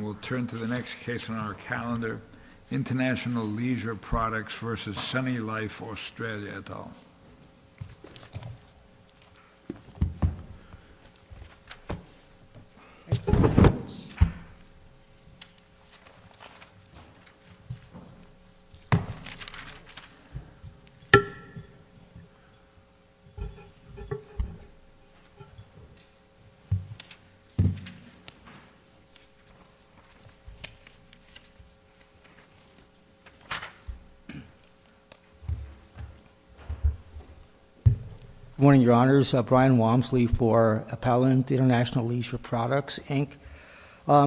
We'll turn to the next case on our calendar, International Leisure Products versus Sunny Life Australia et al. Good morning, your honors, Brian Walmsley for Appellant International Leisure Products, Inc.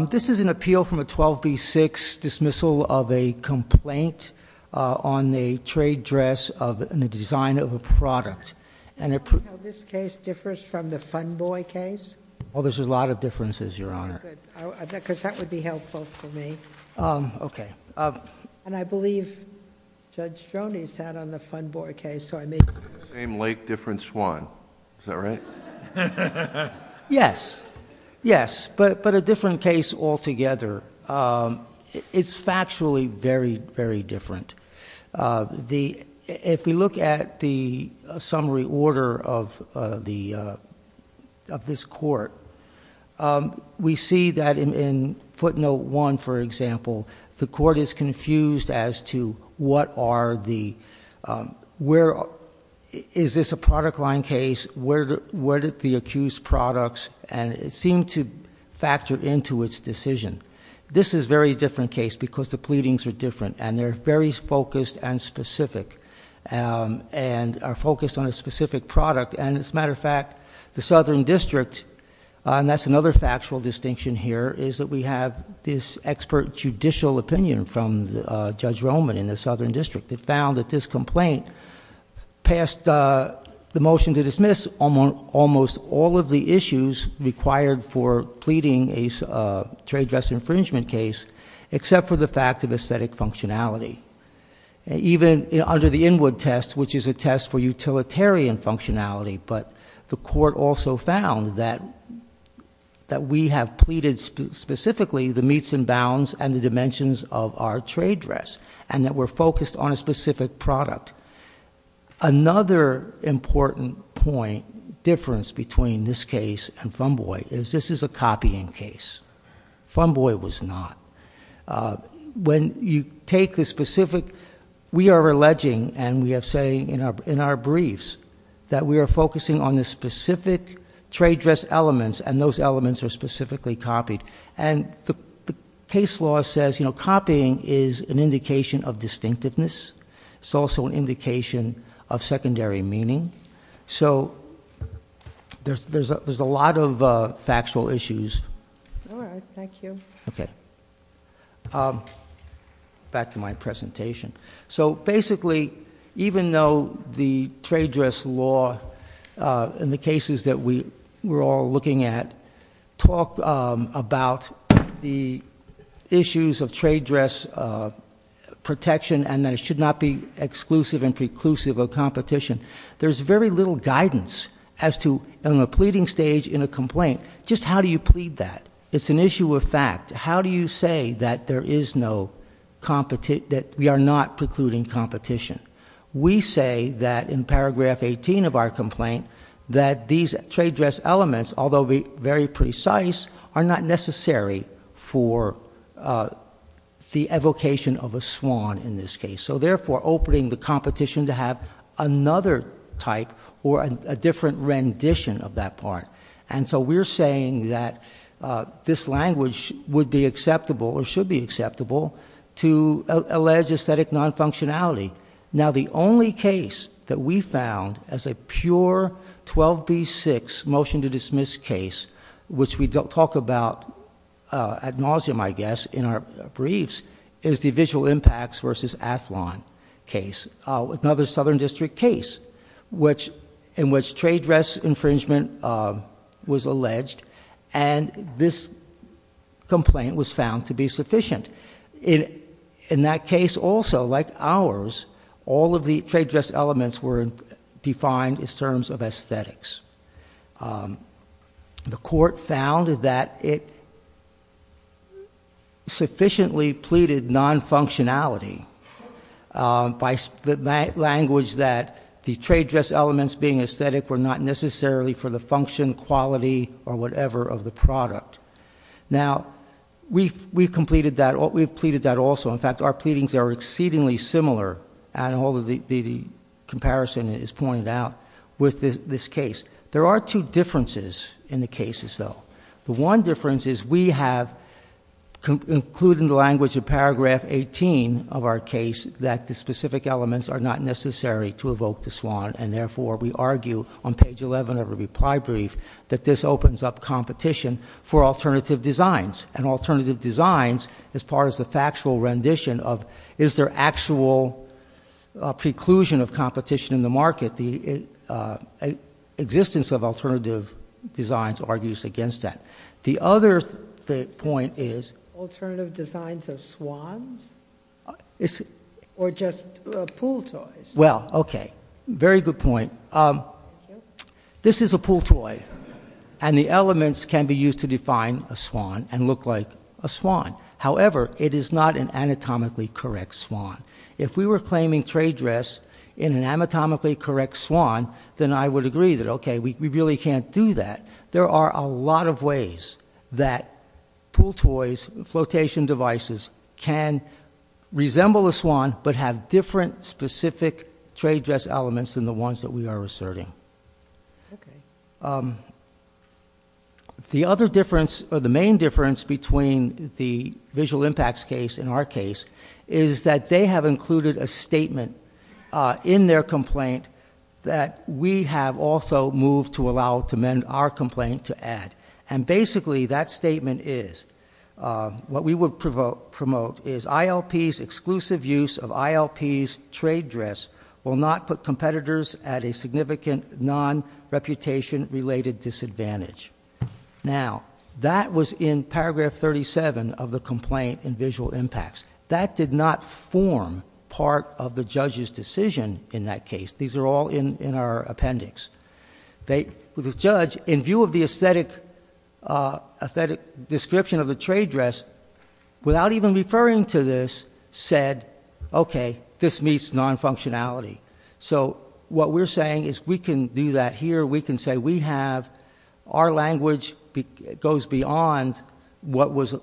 This is an appeal from a 12B6 dismissal of a complaint on the trade dress and the design of a product. And it- How this case differs from the Fun Boy case? Well, there's a lot of differences, your honor. Good, because that would be helpful for me. Okay. And I believe Judge Stroni sat on the Fun Boy case, so I may- It's the same lake, different swan. Is that right? Yes, yes. But a different case altogether. It's factually very, very different. If we look at the summary order of this court, we see that in footnote one, for example, the court is confused as to what are the- Is this a product line case? Where did the accused products? And it seemed to factor into its decision. This is a very different case because the pleadings are different and they're very focused and specific and are focused on a specific product. And as a matter of fact, the Southern District, and that's another factual distinction here, is that we have this expert judicial opinion from Judge Roman in the Southern District. They found that this complaint passed the motion to dismiss almost all of the issues required for pleading a trade dress infringement case, except for the fact of aesthetic functionality. Even under the Inwood test, which is a test for utilitarian functionality, but the court also found that we have pleaded specifically the meets and bounds and the dimensions of our trade dress, and that we're focused on a specific product. Another important point, difference between this case and Fumboy, is this is a copying case. Fumboy was not. When you take the specific, we are alleging, and we are saying in our briefs, that we are focusing on the specific trade dress elements, and those elements are specifically copied. And the case law says copying is an indication of distinctiveness. It's also an indication of secondary meaning. So, there's a lot of factual issues. All right, thank you. Okay, back to my presentation. So basically, even though the trade dress law and the cases that we're all looking at talk about the issues of trade dress protection and that it should not be exclusive and preclusive of competition. There's very little guidance as to, in the pleading stage in a complaint, just how do you plead that? It's an issue of fact. How do you say that we are not precluding competition? We say that in paragraph 18 of our complaint, that these trade dress elements, although very precise, are not necessary for the evocation of a swan in this case. So therefore, opening the competition to have another type or a different rendition of that part. And so we're saying that this language would be acceptable or to allege aesthetic non-functionality. Now the only case that we found as a pure 12B6 motion to dismiss case, which we don't talk about ad nauseum, I guess, in our briefs, is the visual impacts versus Athlon case, another southern district case. Which in which trade dress infringement was alleged and this complaint was found to be sufficient. And in that case also, like ours, all of the trade dress elements were defined in terms of aesthetics. The court found that it sufficiently pleaded non-functionality. By the language that the trade dress elements being aesthetic were not necessarily for the function, quality, or whatever of the product. Now, we've completed that, we've pleaded that also. In fact, our pleadings are exceedingly similar, and all of the comparison is pointed out with this case. There are two differences in the cases, though. The one difference is we have, including the language of paragraph 18 of our case, that the specific elements are not necessary to evoke the swan. And therefore, we argue on page 11 of the reply brief that this opens up competition. For alternative designs, and alternative designs, as part of the factual rendition of, is there actual preclusion of competition in the market? The existence of alternative designs argues against that. The other point is- Alternative designs of swans or just pool toys? Well, okay, very good point. This is a pool toy, and the elements can be used to define a swan and look like a swan. However, it is not an anatomically correct swan. If we were claiming trade dress in an anatomically correct swan, then I would agree that, okay, we really can't do that. There are a lot of ways that pool toys, flotation devices can resemble a swan, but have different specific trade dress elements than the ones that we are asserting. The other difference, or the main difference between the visual impacts case and our case, is that they have included a statement in their complaint that we have also moved to allow to mend our complaint to add. And basically, that statement is, what we would promote is ILPs, exclusive use of ILPs trade dress will not put competitors at a significant non-reputation related disadvantage. Now, that was in paragraph 37 of the complaint in visual impacts. That did not form part of the judge's decision in that case. These are all in our appendix. The judge, in view of the aesthetic description of the trade dress, without even referring to this, said, okay, this meets non-functionality. So, what we're saying is we can do that here. We can say we have, our language goes beyond what was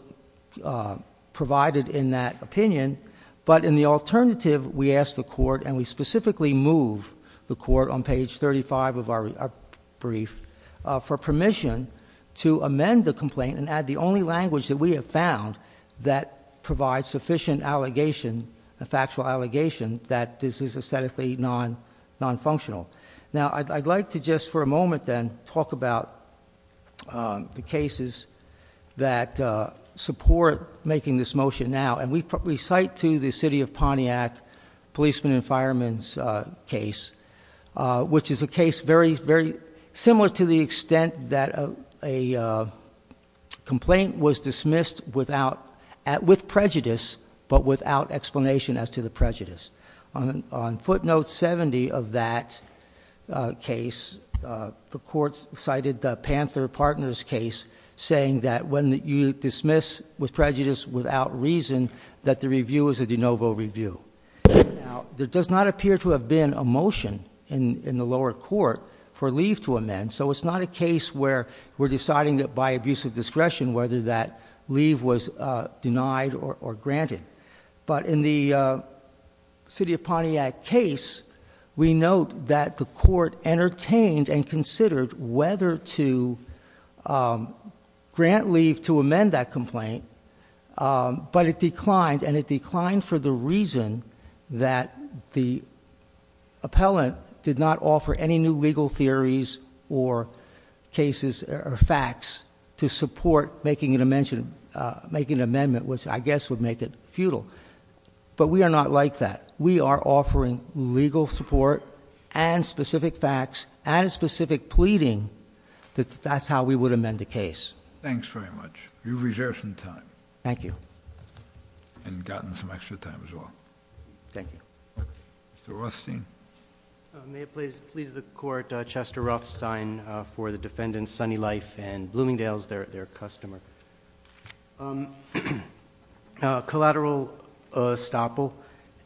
provided in that opinion. But in the alternative, we ask the court, and we specifically move the court on page 35 of our brief, for permission to amend the complaint and add the only language that we have found that provides sufficient allegation, a factual allegation, that this is aesthetically non-functional. Now, I'd like to just for a moment then talk about the cases that support making this motion now. And we cite to the city of Pontiac, policeman and fireman's case, which is a case very, very similar to the extent that a complaint was dismissed with prejudice, but without explanation as to the prejudice. On footnote 70 of that case, the court cited the Panther Partners case, saying that when you dismiss with prejudice without reason, that the review is a de novo review. Now, there does not appear to have been a motion in the lower court for leave to amend. So it's not a case where we're deciding that by abuse of discretion, whether that leave was denied or granted. But in the city of Pontiac case, we note that the court entertained and considered whether to grant leave to amend that complaint. But it declined, and it declined for the reason that the appellant did not offer any new legal theories or cases or facts to support making an amendment, which I guess would make it futile. But we are not like that. We are offering legal support and specific facts and specific pleading that that's how we would amend the case. Thanks very much. You've reserved some time. Thank you. And gotten some extra time as well. Thank you. Mr. Rothstein. May it please the court, Chester Rothstein for the defendants, Sunny Life and Bloomingdale's, their customer. Collateral estoppel.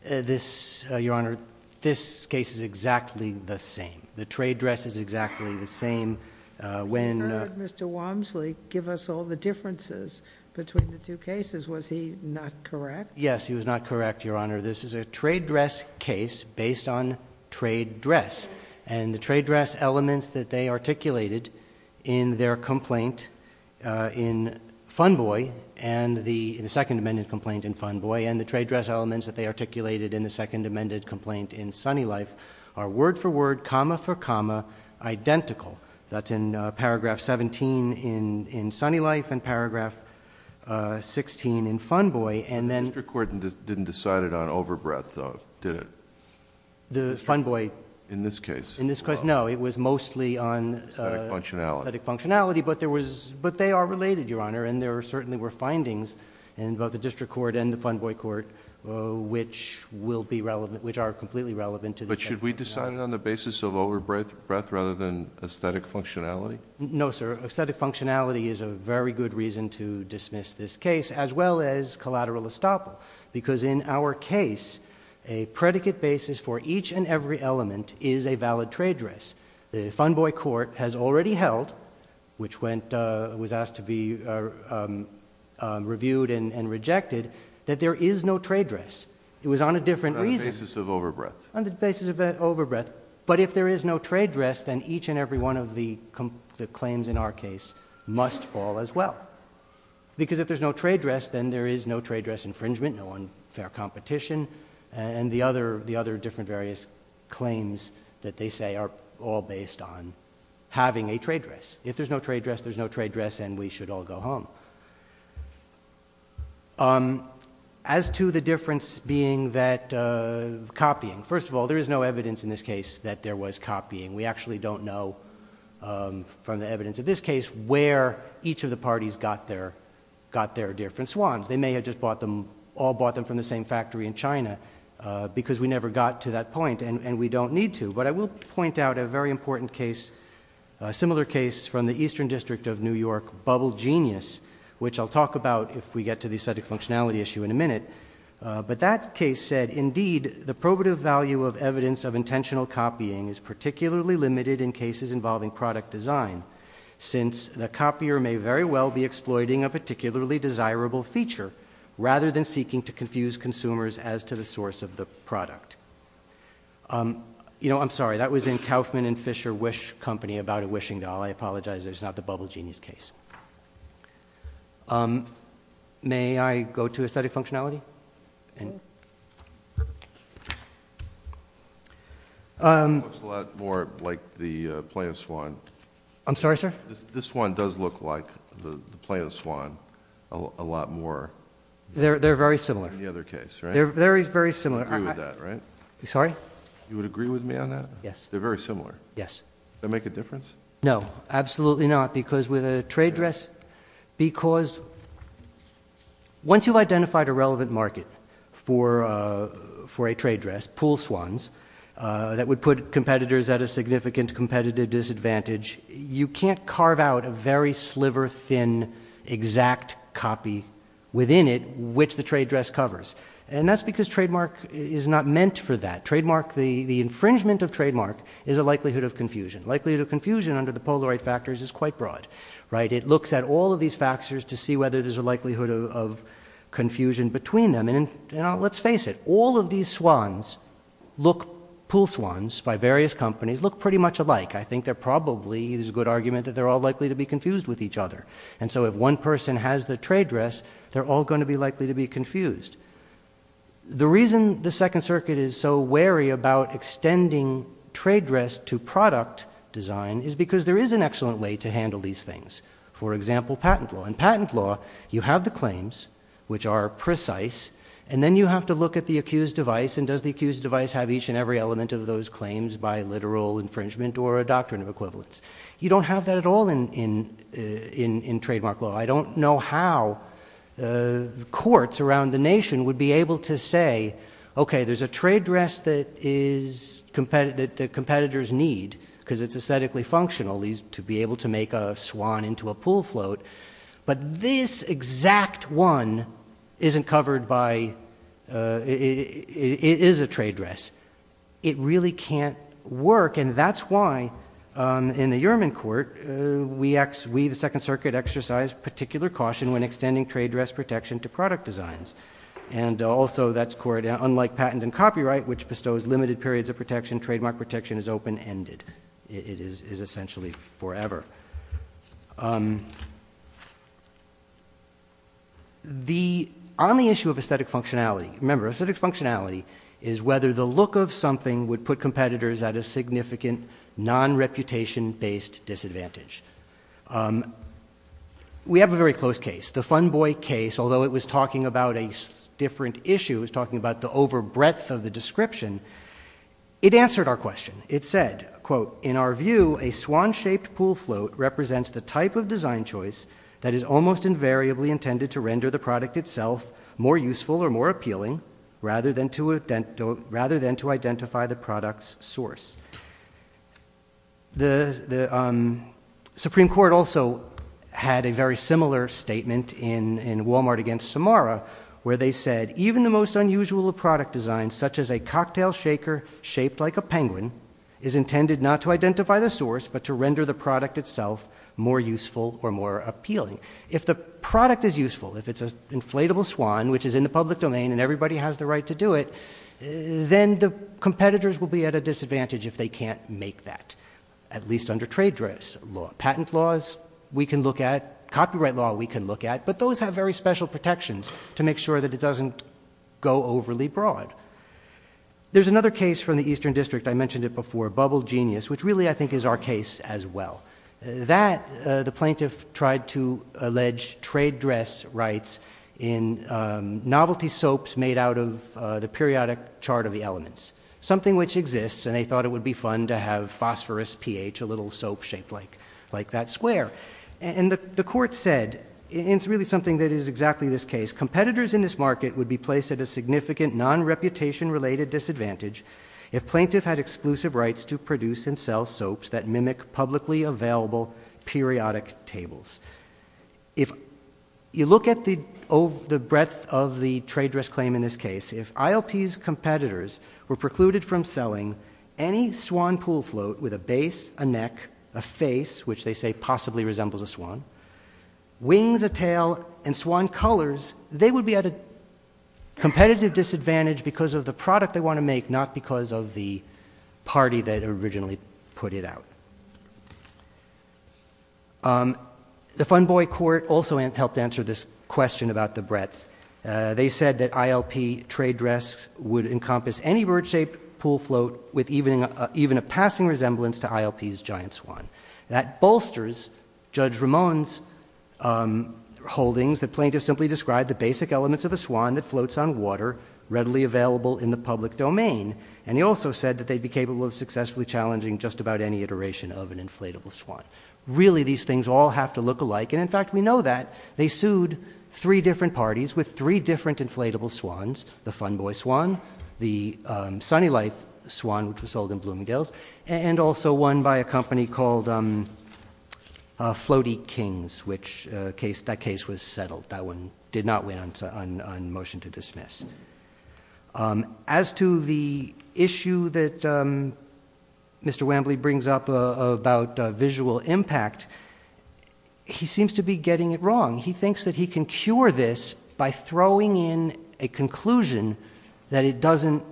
This, your honor, this case is exactly the same. The trade dress is exactly the same. When- Mr. Walmsley, give us all the differences between the two cases. Was he not correct? Yes, he was not correct, your honor. This is a trade dress case based on trade dress. And the trade dress elements that they articulated in their complaint in Fun Boy, and the second amended complaint in Fun Boy, and the trade dress elements that they articulated in the second amended complaint in Sunny Life, are word for word, comma for comma, identical. That's in paragraph 17 in Sunny Life, and paragraph 16 in Fun Boy, and then- The district court didn't decide it on over breath, did it? The Fun Boy- In this case. In this case, no. It was mostly on- Aesthetic functionality. Aesthetic functionality, but they are related, your honor. And there certainly were findings in both the district court and the Fun Boy court which are completely relevant to the- But should we decide it on the basis of over breath rather than aesthetic functionality? No, sir. Aesthetic functionality is a very good reason to dismiss this case, as well as collateral estoppel. Because in our case, a predicate basis for each and every element is a valid trade dress. The Fun Boy court has already held, which was asked to be reviewed and rejected, that there is no trade dress. It was on a different reason. On the basis of over breath. On the basis of over breath. But if there is no trade dress, then each and every one of the claims in our case must fall as well. Because if there's no trade dress, then there is no trade dress infringement, no unfair competition. And the other different various claims that they say are all based on having a trade dress. If there's no trade dress, there's no trade dress, and we should all go home. As to the difference being that copying. First of all, there is no evidence in this case that there was copying. We actually don't know from the evidence of this case where each of the parties got their different swans. They may have all bought them from the same factory in China because we never got to that point and we don't need to. But I will point out a very important case, a similar case from the Eastern District of New York, Bubble Genius. Which I'll talk about if we get to the aesthetic functionality issue in a minute. But that case said, indeed, the probative value of evidence of intentional copying is particularly limited in cases involving product design. Since the copier may very well be exploiting a particularly desirable feature, rather than seeking to confuse consumers as to the source of the product. I'm sorry, that was in Kaufman and Fisher Wish Company about a wishing doll. I apologize, that's not the Bubble Genius case. May I go to aesthetic functionality? And. Looks a lot more like the plaintiff's swan. I'm sorry, sir? This one does look like the plaintiff's swan a lot more. They're very similar. Than the other case, right? They're very, very similar. You would agree with that, right? Sorry? You would agree with me on that? Yes. They're very similar. Yes. Does that make a difference? No, absolutely not. Because with a trade dress, because once you've identified a relevant market for a trade dress, pool swans, that would put competitors at a significant competitive disadvantage. You can't carve out a very sliver, thin, exact copy within it which the trade dress covers. And that's because trademark is not meant for that. Trademark, the infringement of trademark is a likelihood of confusion. Likelihood of confusion under the Polaroid factors is quite broad, right? It looks at all of these factors to see whether there's a likelihood of confusion between them. And let's face it, all of these swans look, pool swans by various companies, look pretty much alike. I think there probably is a good argument that they're all likely to be confused with each other. And so if one person has the trade dress, they're all going to be likely to be confused. The reason the Second Circuit is so wary about extending trade dress to product design is because there is an excellent way to handle these things. For example, patent law. In patent law, you have the claims which are precise, and then you have to look at the accused device, and does the accused device have each and every element of those claims by literal infringement or a doctrine of equivalence? You don't have that at all in trademark law. I don't know how the courts around the nation would be able to say, okay, there's a trade dress that competitors need, because it's aesthetically functional, to be able to make a swan into a pool float. But this exact one isn't covered by, it is a trade dress. It really can't work. And that's why in the Uriman court, we, the Second Circuit, exercise particular caution when extending trade dress protection to product designs. And also, that's court, unlike patent and copyright, which bestows limited periods of protection, trademark protection is open-ended. It is essentially forever. On the issue of aesthetic functionality, remember, aesthetic functionality is whether the look of something would put competitors at a significant non-reputation-based disadvantage. We have a very close case, the Fun Boy case, although it was talking about a different issue, it was talking about the over breadth of the description, it answered our question. It said, quote, in our view, a swan-shaped pool float represents the type of design choice that is almost invariably intended to render the product itself more useful or more appealing, rather than to identify the product's source. The Supreme Court also had a very similar statement in Walmart against Samara, where they said, even the most unusual of product designs, such as a cocktail shaker shaped like a penguin, is intended not to identify the source, but to render the product itself more useful or more appealing. If the product is useful, if it's an inflatable swan, which is in the public domain and everybody has the right to do it, then the competitors will be at a disadvantage if they can't make that, at least under trade dress law. Patent laws we can look at, copyright law we can look at, but those have very special protections to make sure that it doesn't go overly broad. There's another case from the Eastern District, I mentioned it before, Bubble Genius, which really I think is our case as well. That the plaintiff tried to allege trade dress rights in novelty soaps made out of the periodic chart of the elements. Something which exists, and they thought it would be fun to have phosphorus pH, a little soap shaped like that square. And the court said, and it's really something that is exactly this case, competitors in this market would be placed at a significant non-reputation related disadvantage if plaintiff had exclusive rights to produce and sell available periodic tables. If you look at the breadth of the trade dress claim in this case, if ILP's competitors were precluded from selling any swan pool float with a base, a neck, a face, which they say possibly resembles a swan, wings, a tail, and swan colors, they would be at a competitive disadvantage because of the product they want to make, not because of the party that originally put it out. The Fun Boy Court also helped answer this question about the breadth. They said that ILP trade dress would encompass any bird shaped pool float with even a passing resemblance to ILP's giant swan. That bolsters Judge Ramon's holdings that plaintiff simply described the basic elements of a swan that floats on water readily available in the public domain, and he also said that they'd be capable of successfully challenging just about any iteration of an inflatable swan. Really, these things all have to look alike, and in fact, we know that. They sued three different parties with three different inflatable swans, the Fun Boy Swan, the Sunny Life Swan, which was sold in Bloomingdale's, and also one by a company called Floaty Kings, which that case was settled. That one did not win on motion to dismiss. As to the issue that Mr. Wambly brings up about visual impact, he seems to be getting it wrong. He thinks that he can cure this by throwing in a conclusion that it doesn't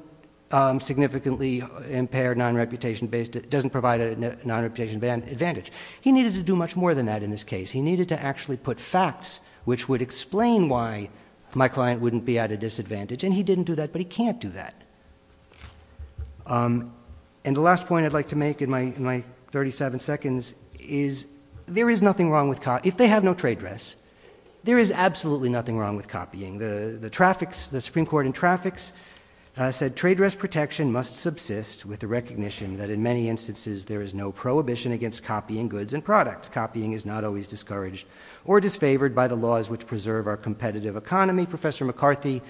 significantly impair non-reputation based, doesn't provide a non-reputation advantage. He needed to do much more than that in this case. He needed to actually put facts which would explain why my client wouldn't be at a disadvantage, and he didn't do that, but he can't do that. And the last point I'd like to make in my 37 seconds is, there is nothing wrong with, if they have no trade dress, there is absolutely nothing wrong with copying. The Supreme Court in traffics said trade dress protection must subsist with the recognition that in many instances there is no prohibition against copying goods and products, copying is not always discouraged or disfavored by the laws which preserve our competitive economy. Professor McCarthy,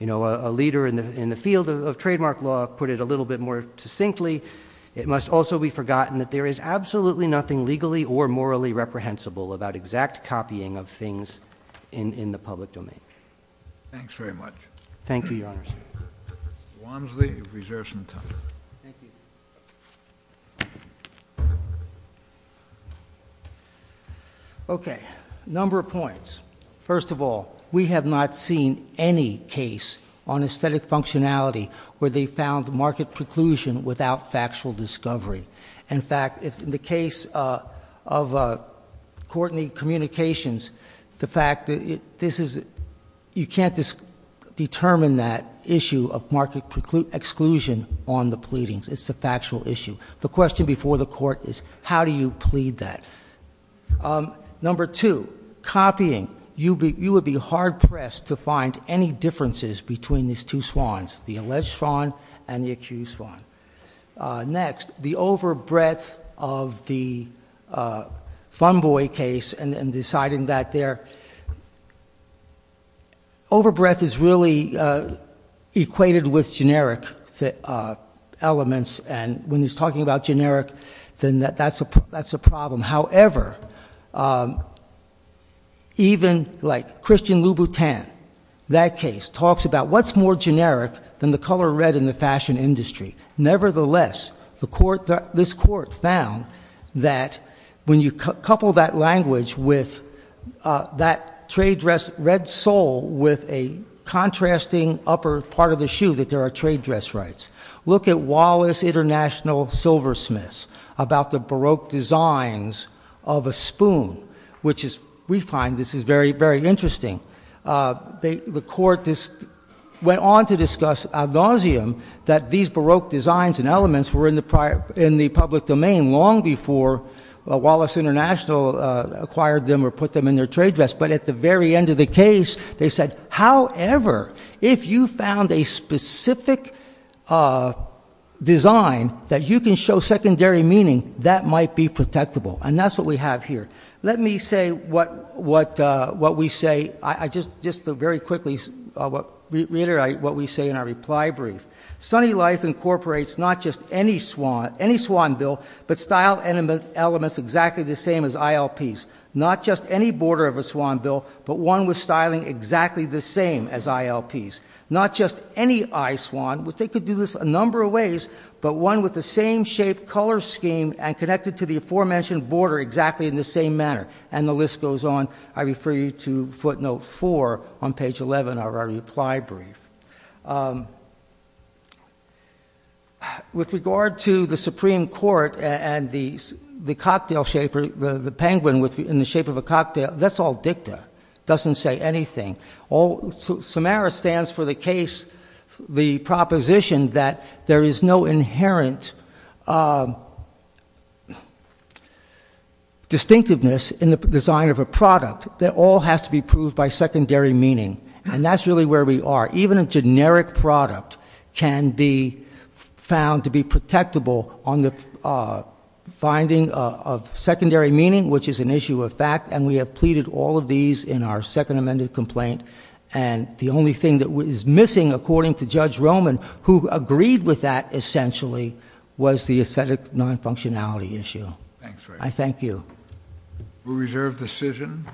a leader in the field of trademark law, put it a little bit more succinctly. It must also be forgotten that there is absolutely nothing legally or morally reprehensible about exact copying of things in the public domain. Thanks very much. Thank you, your honors. Wamsley, you've reserved some time. Thank you. Okay, number of points. First of all, we have not seen any case on aesthetic functionality where they found market preclusion without factual discovery. In fact, in the case of Courtney Communications, the fact that you can't determine that issue of market exclusion on the pleadings. It's a factual issue. The question before the court is, how do you plead that? Number two, copying. You would be hard pressed to find any differences between these two swans, the alleged swan and the accused swan. Next, the over breadth of the Fumboy case and deciding that their over breadth is really equated with generic elements and when he's talking about generic, then that's a problem. However, even like Christian Louboutin, that case talks about what's more generic than the color red in the fashion industry. Nevertheless, this court found that when you couple that language with that trade dress red sole with a contrasting upper part of the shoe that there are trade dress rights. Look at Wallace International Silversmiths about the Baroque designs of a spoon, which we find this is very, very interesting. The court went on to discuss ad nauseum that these Baroque designs and elements were in the public domain long before Wallace International acquired them or put them in their trade dress. But at the very end of the case, they said, however, if you found a specific design that you can show secondary meaning, that might be protectable, and that's what we have here. Let me say what we say, I just very quickly reiterate what we say in our reply brief. Sunny Life incorporates not just any swan bill, but style elements exactly the same as ILPs. Not just any border of a swan bill, but one with styling exactly the same as ILPs. Not just any eye swan, which they could do this a number of ways, but one with the same shape, color scheme, and connected to the aforementioned border exactly in the same manner. And the list goes on. I refer you to footnote four on page 11 of our reply brief. With regard to the Supreme Court and the cocktail shaper, the penguin in the shape of a cocktail, that's all dicta. Doesn't say anything. Samara stands for the case, the proposition that there is no inherent distinctiveness in the design of a product that all has to be proved by secondary meaning. And that's really where we are. Even a generic product can be found to be protectable on the finding of secondary meaning, which is an issue of fact. And we have pleaded all of these in our second amended complaint. And the only thing that is missing, according to Judge Roman, who agreed with that essentially, was the aesthetic non-functionality issue. I thank you. We'll reserve the decision.